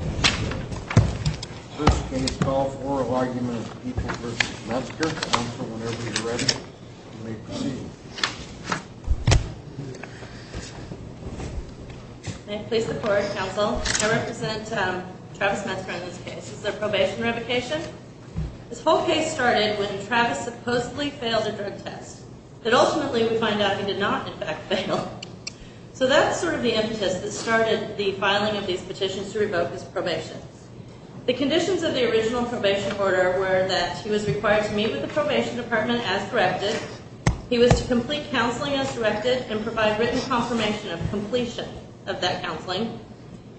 I represent Travis Metzger in this case. This is a probation revocation. This whole case started when Travis supposedly failed a drug test, but ultimately we find out he did not in fact fail. So that's sort of the impetus that started the filing of these petitions to revoke his probation. The conditions of the original probation order were that he was required to meet with the probation department as directed. He was to complete counseling as directed and provide written confirmation of completion of that counseling.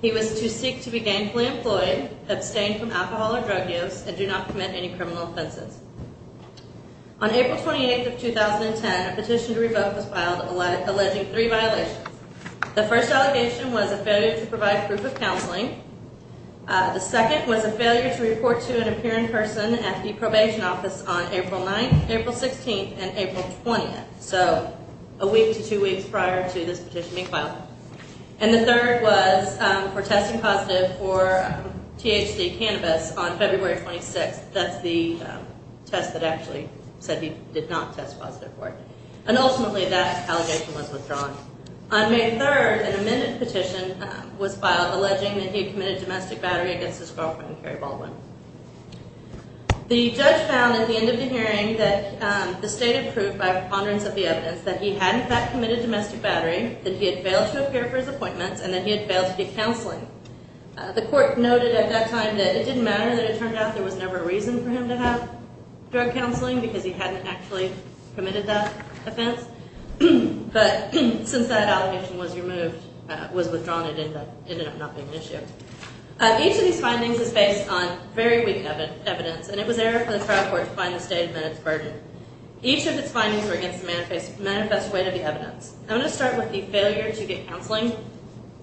He was to seek to be gainfully employed, abstain from alcohol or drug use, and do not commit any criminal offenses. On April 28th of 2010, a petition to revoke was filed alleging three violations. The first allegation was a failure to provide proof of counseling. The second was a failure to report to an appearing person at the probation office on April 9th, April 16th, and April 20th. So a week to two weeks prior to this petition being filed. And the third was for testing positive for THC cannabis on February 26th. That's the test that actually said he did not test positive for it. And ultimately that allegation was withdrawn. On May 3rd, an amended petition was filed alleging that he committed domestic battery against his girlfriend, Carrie Baldwin. The judge found at the end of the hearing that the state approved by preponderance of the evidence that he had in fact committed domestic battery, that he had failed to appear for his appointments, and that he had failed to get counseling. The court noted at that time that it didn't matter, that it turned out there was never a reason for him to have drug counseling because he hadn't actually committed that offense. But since that allegation was withdrawn, it ended up not being an issue. Each of these findings is based on very weak evidence, and it was error for the trial court to find the state and then its burden. Each of its findings were against the manifest weight of the evidence. I'm going to start with the failure to get counseling.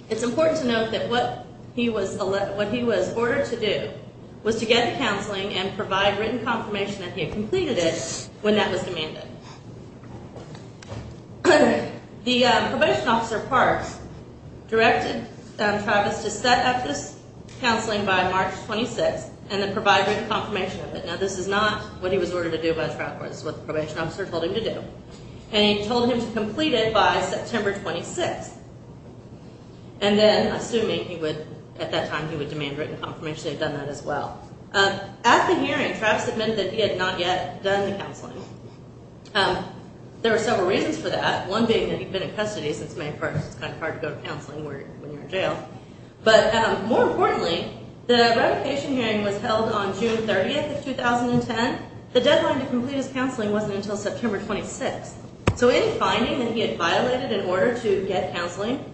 It's important to note that what he was ordered to do was to get the counseling and provide written confirmation that he had completed it when that was demanded. The probation officer, Parks, directed Travis to set up this counseling by March 26th and then provide written confirmation of it. Now, this is not what he was ordered to do by the trial court. This is what the probation officer told him to do. And he told him to complete it by September 26th. And then, assuming he would, at that time, he would demand written confirmation that he had done that as well. At the hearing, Travis admitted that he had not yet done the counseling. There were several reasons for that, one being that he'd been in custody since May 1st. It's kind of hard to go to counseling when you're in jail. But more importantly, the revocation hearing was held on June 30th of 2010. The deadline to complete his counseling wasn't until September 26th. So any finding that he had violated in order to get counseling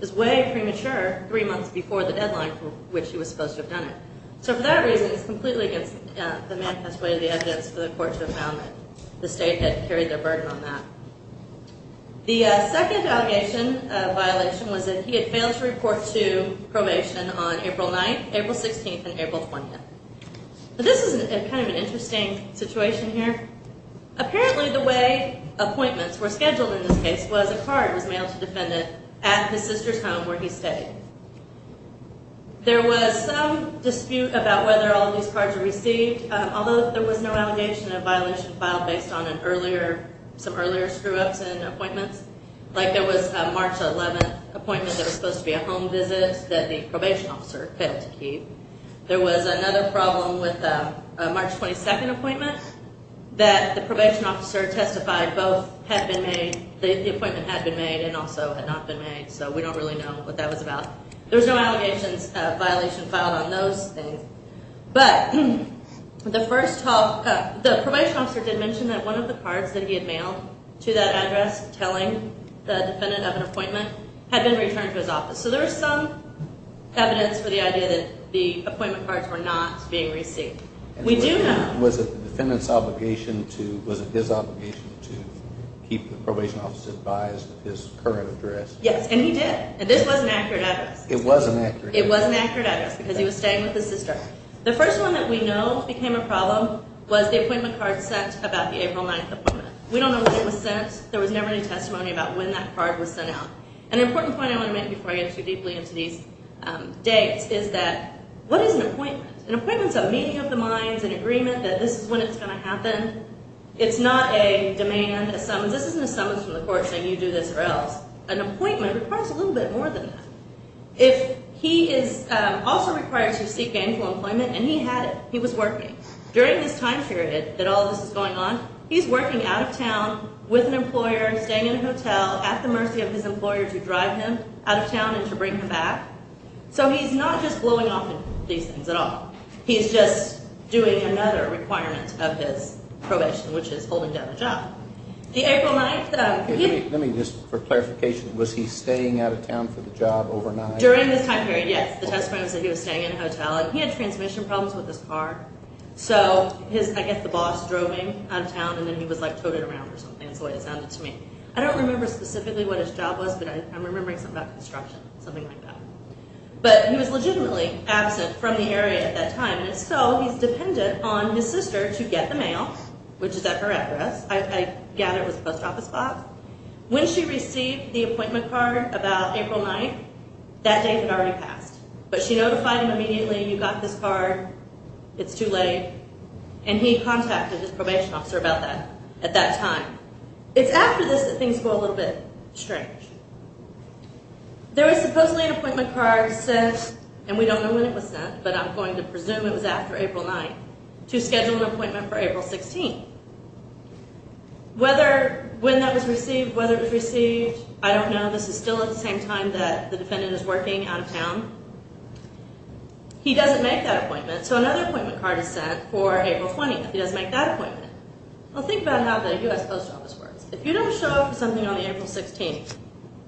is way premature three months before the deadline for which he was supposed to have done it. So for that reason, it's completely against the manifest way of the evidence for the court to have found that the state had carried their burden on that. The second allegation violation was that he had failed to report to probation on April 9th, April 16th, and April 20th. But this is kind of an interesting situation here. Apparently, the way appointments were scheduled in this case was a card was mailed to defendant at his sister's home where he stayed. There was some dispute about whether all these cards were received, although there was no allegation of violation filed based on some earlier screw-ups in appointments. Like there was a March 11th appointment that was supposed to be a home visit that the probation officer failed to keep. There was another problem with a March 22nd appointment that the probation officer testified both the appointment had been made and also had not been made. So we don't really know what that was about. There's no allegations of violation filed on those things. But the first talk, the probation officer did mention that one of the cards that he had mailed to that address telling the defendant of an appointment had been returned to his office. So there was some evidence for the idea that the appointment cards were not being received. We do know... Was it the defendant's obligation to, was it his obligation to And he did. And this was an accurate address. It was an accurate address. It was an accurate address because he was staying with his sister. The first one that we know became a problem was the appointment card sent about the April 9th appointment. We don't know when it was sent. There was never any testimony about when that card was sent out. An important point I want to make before I get too deeply into these dates is that what is an appointment? An appointment is a meeting of the minds, an agreement that this is when it's going to happen. It's not a demand, a summons. You do this or else. An appointment requires a little bit more than that. If he is also required to seek gainful employment and he had it, he was working during this time period that all of this is going on. He's working out of town with an employer, staying in a hotel at the mercy of his employer to drive him out of town and to bring him back. So he's not just blowing off these things at all. He's just doing another requirement of his probation, which is holding down a job. The April 9th- Let me just, for clarification, was he staying out of town for the job overnight? During this time period, yes. The testimony said he was staying in a hotel and he had transmission problems with his car. So I guess the boss drove him out of town and then he was toted around or something. That's the way it sounded to me. I don't remember specifically what his job was, but I'm remembering something about construction, something like that. But he was legitimately absent from the area at that time. And so he's dependent on his sister to get the mail, which is at her address. I gather it was post office box. When she received the appointment card about April 9th, that date had already passed. But she notified him immediately, you got this card, it's too late. And he contacted his probation officer about that at that time. It's after this that things go a little bit strange. There was supposedly an appointment card sent, and we don't know when it was sent, but I'm going to presume it was after April 9th, to schedule an appointment for April 16th. Whether when that was received, whether it was received, I don't know. This is still at the same time that the defendant is working out of town. He doesn't make that appointment. So another appointment card is sent for April 20th. He doesn't make that appointment. Well, think about how the U.S. Post Office works. If you don't show up for something on April 16th,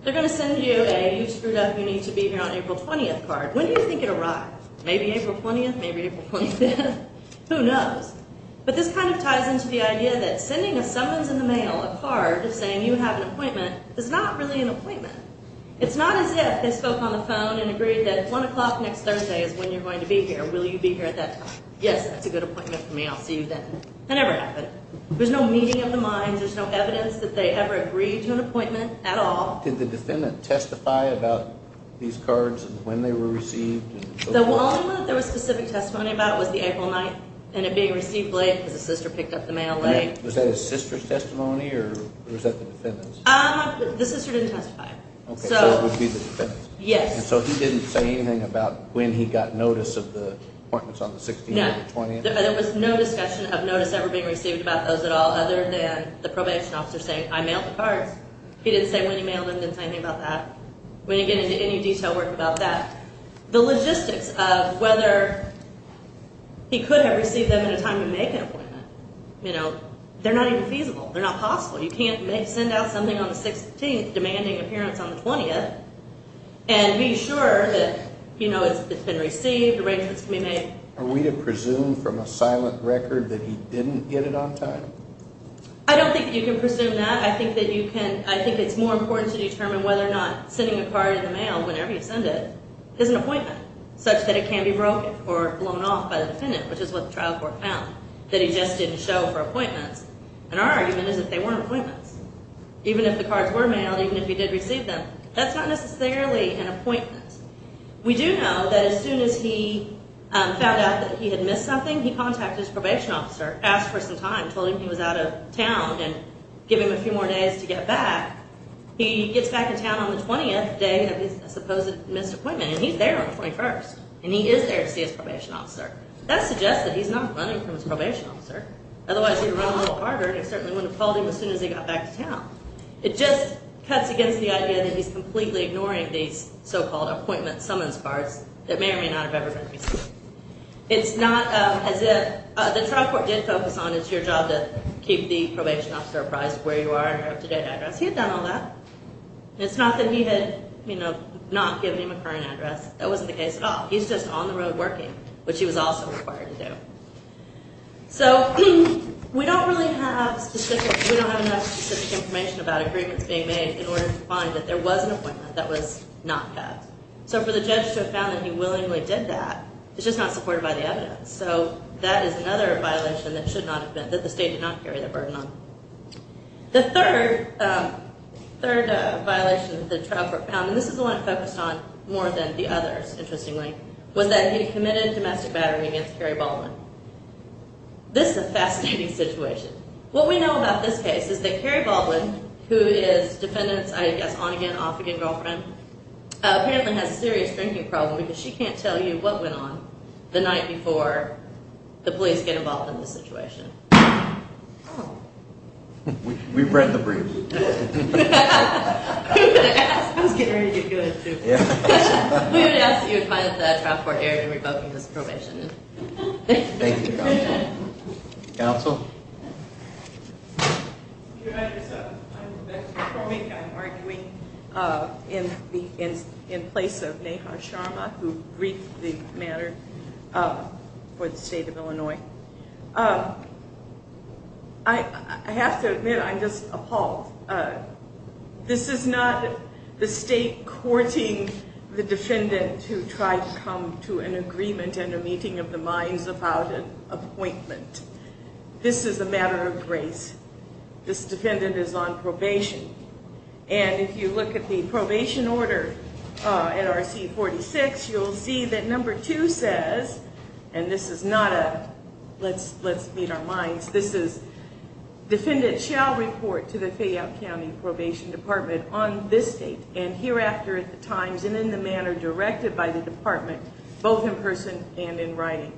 they're going to send you a, you screwed up, you need to be here on April 20th card. When do you think it arrived? Maybe April 20th, maybe April 25th, who knows? But this kind of ties into the idea that sending a summons in the mail, a card, saying you have an appointment, is not really an appointment. It's not as if they spoke on the phone and agreed that one o'clock next Thursday is when you're going to be here. Will you be here at that time? Yes, that's a good appointment for me, I'll see you then. That never happened. There's no meeting of the minds, there's no evidence that they ever agreed to an appointment at all. Did the defendant testify about these cards and when they were received? The only one that there was specific testimony about was the April 9th and it being received late because the sister picked up the mail late. Was that his sister's testimony or was that the defendant's? The sister didn't testify. Okay, so it would be the defendant's? Yes. So he didn't say anything about when he got notice of the appointments on the 16th or the 20th? There was no discussion of notice ever being received about those at all other than the probation officer saying, I mailed the cards. He didn't say when he mailed them, didn't say anything about that. We didn't get into any detail work about that. The logistics of whether he could have received them at a time to make an appointment, you know, they're not even feasible, they're not possible. You can't send out something on the 16th demanding appearance on the 20th and be sure that, you know, it's been received, arrangements can be made. Are we to presume from a silent record that he didn't get it on time? I don't think you can presume that. I think that you can, I think it's more important to determine whether or not sending a card in the mail whenever you send it is an appointment such that it can be broken or blown off by the defendant, which is what the trial court found, that he just didn't show for appointments. And our argument is that they weren't appointments. Even if the cards were mailed, even if he did receive them, that's not necessarily an appointment. We do know that as soon as he found out that he had missed something, he contacted his probation officer, asked for some time, told him he was out of town, and give him a few more days to get back, he gets back in town on the 20th day of his supposed missed appointment, and he's there on the 21st, and he is there to see his probation officer. That suggests that he's not running from his probation officer. Otherwise, he'd run a little harder, and it certainly wouldn't have called him as soon as he got back to town. It just cuts against the idea that he's completely ignoring these so-called appointment summons cards that may or may not have ever been received. It's not as if the trial court did focus on, it's your job to keep the probation officer apprised of where you are and your up-to-date address. He had done all that. And it's not that he had not given him a current address. That wasn't the case at all. He's just on the road working, which he was also required to do. So we don't really have specific, we don't have enough specific information about agreements being made in order to find that there was an appointment that was not cut. So for the judge to have found that he willingly did that, it's just not supported by the evidence. So that is another violation that the state did not carry the burden on. The third violation that the trial court found, and this is the one it focused on more than the others, interestingly, was that he committed domestic battery against Carrie Baldwin. This is a fascinating situation. What we know about this case is that Carrie Baldwin, who is defendant's, I guess, on-again, off-again girlfriend, apparently has a serious drinking problem because she can't tell you what went on the night before the police get involved in the situation. We've read the brief. We would ask that you advise the trial court area to revoke his probation. Thank you, counsel. Counsel? Your Honor, I'm Rebecca Kromick. I'm arguing in place of Neha Sharma who briefed the matter for the state of Illinois. I have to admit, I'm just appalled. This is not the state courting the defendant who tried to come to an agreement and a meeting of the minds about an appointment. This is a matter of grace. This defendant is on probation. And if you look at the probation order NRC 46, you'll see that number two says, and this is not a let's meet our minds, this is defendant shall report to the Fayette County Probation Department on this date and hereafter at the times and in the manner directed by the department, both in person and in writing.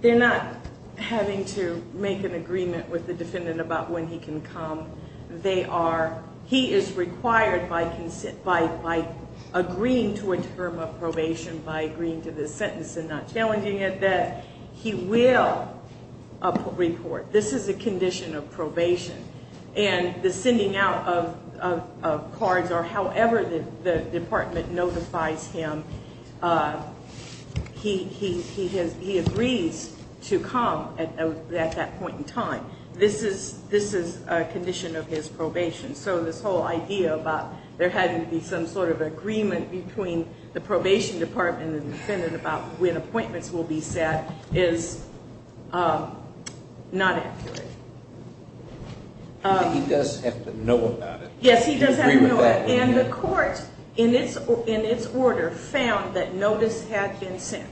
They're not having to make an agreement with the defendant about when he can come. They are, he is required by consent, by agreeing to a term of probation, by agreeing to this sentence and not challenging it, that he will report. This is a condition of probation. And the sending out of cards or however the department notifies him, uh, he, he, he has, he agrees to come at that point in time. This is, this is a condition of his probation. So this whole idea about there having to be some sort of agreement between the probation department and the defendant about when appointments will be set is not accurate. He does have to know about it. He does have to know it. And the court in its, in its order found that notice had been sent.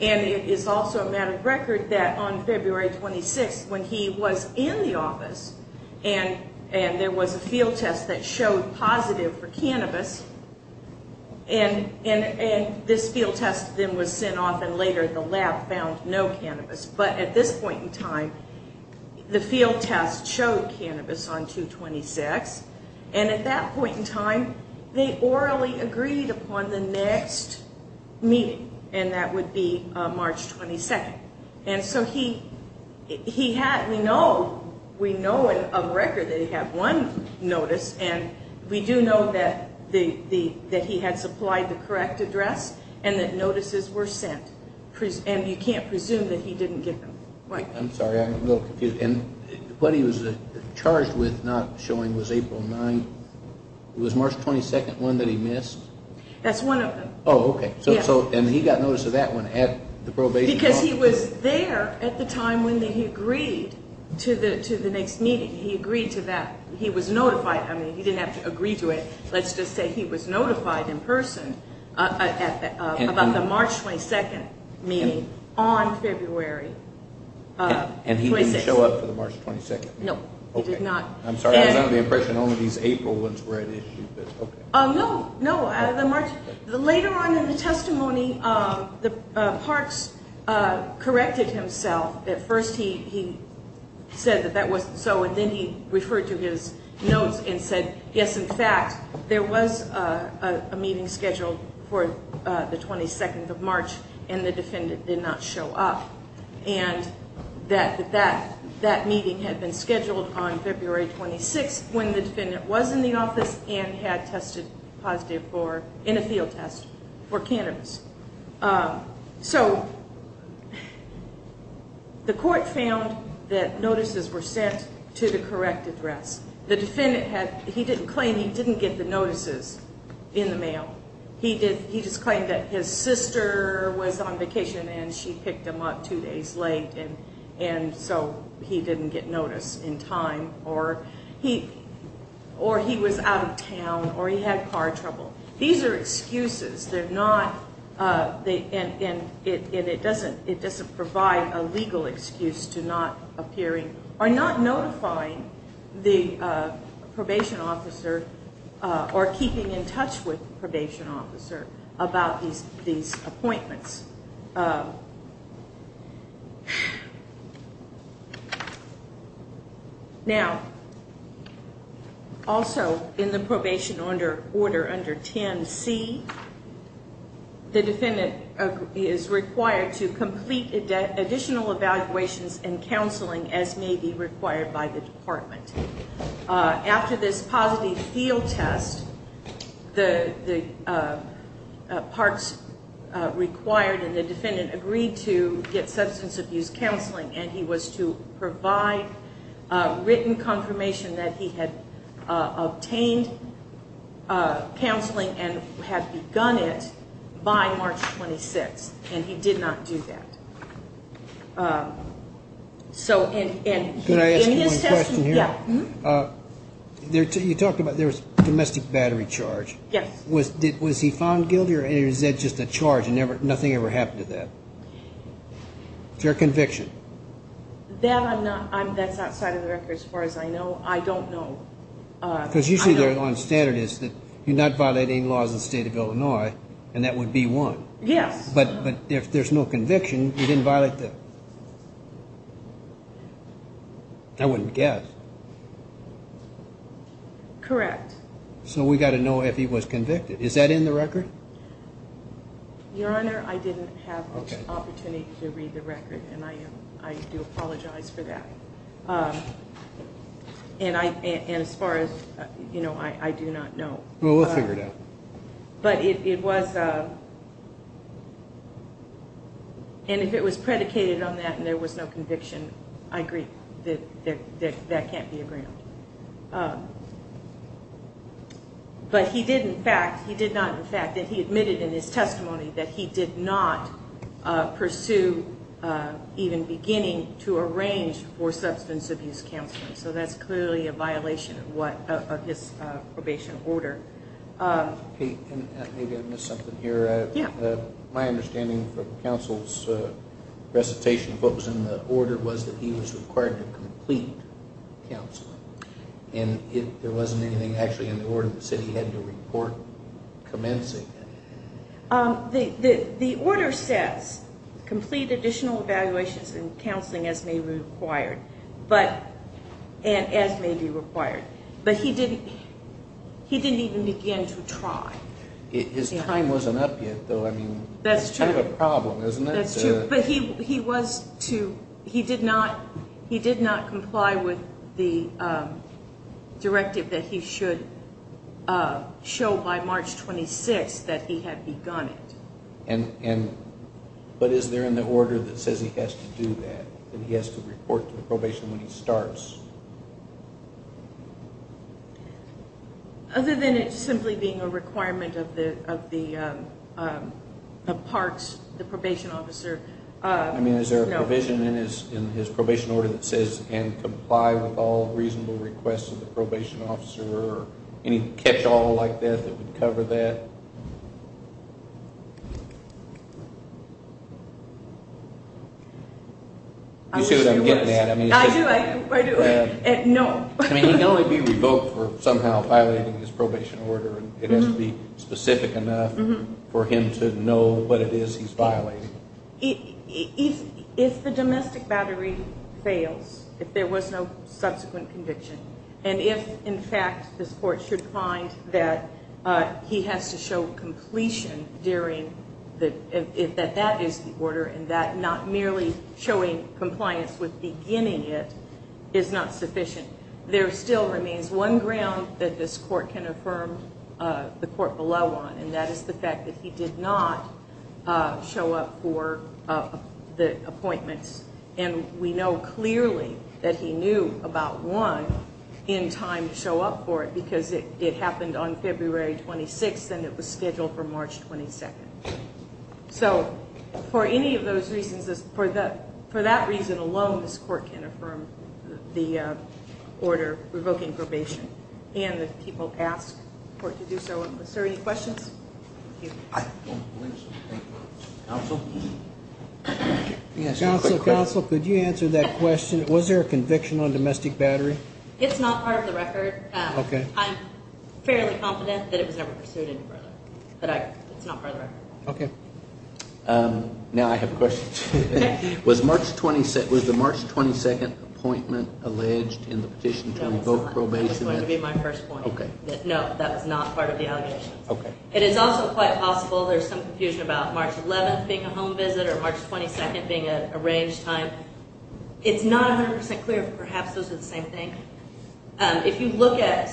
And it is also a matter of record that on February 26th, when he was in the office and, and there was a field test that showed positive for cannabis and, and, and this field test then was sent off and later the lab found no cannabis. But at this point in time, the field test showed cannabis on 2-26. And at that point in time, they orally agreed upon the next meeting. And that would be March 22nd. And so he, he had, we know, we know of record that he had one notice and we do know that the, the, that he had supplied the correct address and that notices were sent. And you can't presume that he didn't give them. I'm sorry. I'm a little confused. And what he was charged with not showing was April 9th. It was March 22nd, one that he missed? That's one of them. Oh, okay. So, so, and he got notice of that one at the probation office? Because he was there at the time when he agreed to the, to the next meeting. He agreed to that. He was notified. I mean, he didn't have to agree to it. Let's just say he was notified in person at the, about the March 22nd meeting on February 26th. And he didn't show up for the March 22nd meeting? No, he did not. I'm sorry. I was under the impression only these April ones were at issue, but okay. No, no. The March, later on in the testimony, Parks corrected himself. At first he, he said that that wasn't so, and then he referred to his notes and said, yes, in fact, there was a meeting scheduled for the 22nd of March and the defendant did not show up. And that, that, that meeting had been scheduled on February 26th when the defendant was in the office and had tested positive for, in a field test for cannabis. So the court found that notices were sent to the correct address. The defendant had, he didn't claim he didn't get the notices in the mail. He did, he just claimed that his sister was on vacation and she picked him up two days late. And, and so he didn't get notice in time or he, or he was out of town or he had car trouble. These are excuses. They're not, they, and, and it, and it doesn't, it doesn't provide a legal excuse to not appearing or not notifying the probation officer or keeping in touch with the probation officer about these, these appointments. Now, also in the probation under, order under 10C, the defendant is required to complete additional evaluations and counseling as may be required by the department. After this positive field test, the, the parts required and the defendant agreed to get substance abuse counseling. And he was to provide a written confirmation that he had obtained counseling and had begun it by March 26th. And he did not do that. So, and, and can I ask you one question here? Yeah. You talked about, there was domestic battery charge. Yes. Was, was he found guilty or is that just a charge and never, nothing ever happened to that? Is there a conviction? That I'm not, I'm, that's outside of the record as far as I know. I don't know. Because usually they're on standard is that you're not violating laws in the state of Illinois and that would be one. Yes. But, but if there's no conviction, you didn't violate the, I wouldn't guess. Correct. So we got to know if he was convicted. Is that in the record? Your Honor, I didn't have an opportunity to read the record and I am, I do apologize for that. And I, and as far as, you know, I do not know. Well, we'll figure it out. But it was, and if it was predicated on that and there was no conviction, I agree that that can't be a ground. But he did in fact, he did not in fact, that he admitted in his testimony that he did not pursue even beginning to arrange for substance abuse counseling. So that's clearly a violation of what, of his probation order. Kate, maybe I missed something here. Yeah. My understanding from counsel's recitation of what was in the order was that he was required to complete counseling and it, there wasn't anything actually in the order that said he had to report commencing. The, the, the order says complete additional evaluations and counseling as may be required, but, and as may be required, but he didn't, he didn't even begin to try. His time wasn't up yet though. I mean, that's kind of a problem, isn't it? That's true. But he, he was to, he did not, he did not comply with the directive that he should show by March 26th that he had begun it. And, and, but is there in the order that says he has to do that, that he has to report to the probation when he starts? Other than it simply being a requirement of the, of the, the parks, the probation officer. I mean, is there a provision in his, in his probation order that says, and comply with all reasonable requests of the probation officer or any catch-all like that that would cover that? You see what I'm getting at? I do, I do. No. I mean, he can only be revoked for somehow violating his probation order. It has to be specific enough for him to know what it is he's violating. If, if the domestic battery fails, if there was no subsequent conviction, and if, in fact, this court should find that he has to show completion during the, that that is the order, and that not merely showing compliance with beginning it is not sufficient, there still remains one ground that this court can affirm the court below on, and that is the fact that he did not show up for the appointments, and we know clearly that he knew about one in time to show up for it because it, it happened on February 26th, and it was scheduled for March 22nd. So, for any of those reasons, for the, for that reason alone, this court can affirm the order revoking probation, and that people ask for it to do so. Is there any questions? Counsel? Yes. Counsel, counsel, could you answer that question? Was there a conviction on domestic battery? It's not part of the record. Okay. I'm fairly confident that it was never pursued any further, but I, it's not part of the record. Okay. Now I have a question. Was March 27th, was the March 22nd appointment alleged in the petition to revoke probation? That was going to be my first point. Okay. No, that was not part of the allegations. Okay. It is also quite possible there's some confusion about March 11th being a home visit or March 22nd being a range time. It's not 100% clear, but perhaps those are the same thing. If you look at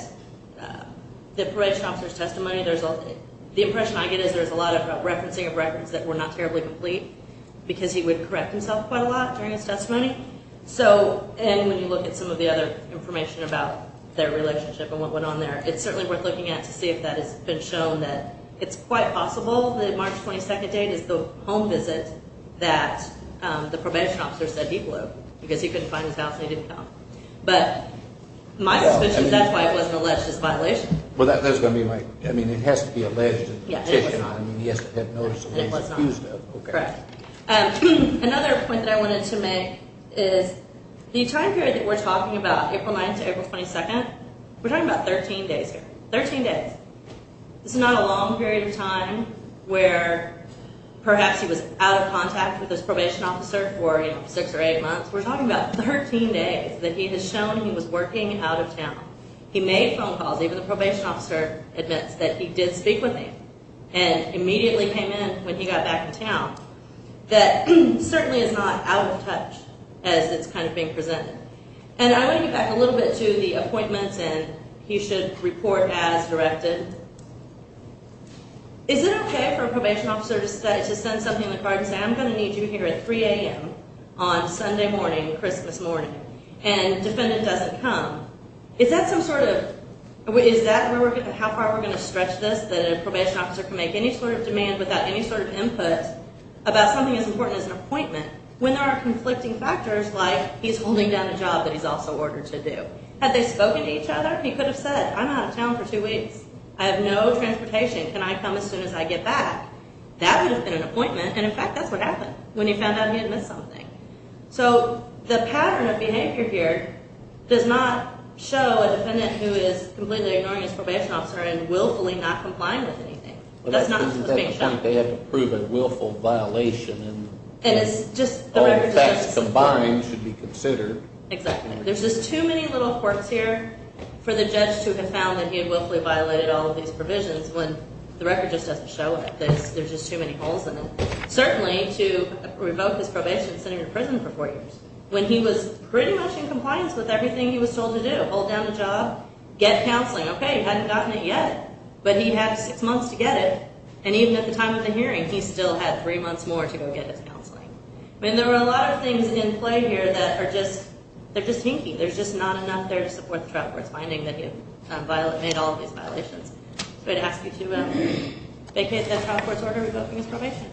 the probation officer's testimony, there's a, the impression I get is there's a lot of referencing of records that were not terribly complete because he would correct himself quite a lot during his testimony. So, and when you look at some of the other information about their relationship and what went on there, it's certainly worth looking at to see if that has been shown that it's quite possible that the March 22nd date is the home visit that the probation officer said he blew because he couldn't find his house and he didn't come. But my suspicion is that's why it wasn't alleged as a violation. Well, that's going to be my, I mean, it has to be alleged in the petition. I mean, he has to have noticed it when he was accused of it. Correct. Another point that I wanted to make is the time period that we're talking about, April 9th to April 22nd, we're talking about 13 days here, 13 days. This is not a long period of time where perhaps he was out of contact with his probation officer for six or eight months. We're talking about 13 days that he has shown he was working out of town. He made phone calls, even the probation officer admits that he did speak with him and immediately came in when he got back to town. That certainly is not out of touch as it's kind of being presented. And I want to get back a little bit to the appointments and he should report as directed. Is it okay for a probation officer to send something in the card and say, I'm going to need you here at 3 a.m. on Sunday morning, Christmas morning, and defendant doesn't come? Is that some sort of, is that how far we're going to stretch this, that a probation officer can make any sort of demand without any sort of input about something as important as an appointment when there are conflicting factors like he's holding down a job that he's also ordered to do? Have they spoken to each other? He could have said, I'm out of town for two weeks. I have no transportation. Can I come as soon as I get back? That would have been an appointment. And in fact, that's what happened when he found out he had missed something. So the pattern of behavior here does not show a defendant who is completely ignoring his probation officer and willfully not complying with anything. That's not what's being shown. They have to prove a willful violation and all the facts combined should be considered. Exactly. There's just too many little quirks here for the judge to have found that he had willfully violated all of these provisions when the record just doesn't show it. There's just too many holes in it. Certainly to revoke his probation, send him to prison for four years, when he was pretty much in compliance with everything he was told to do, hold down a job, get counseling. Okay, you hadn't gotten it yet, but he had six months to get it. And even at the time of the hearing, he still had three months more to go get his counseling. I mean, there were a lot of things in play here that are just, they're just hinky. There's just not enough there to support the trial court's finding that he made all of these violations. So I'd ask you to vacate that trial court's order revoking his probation. Thank you.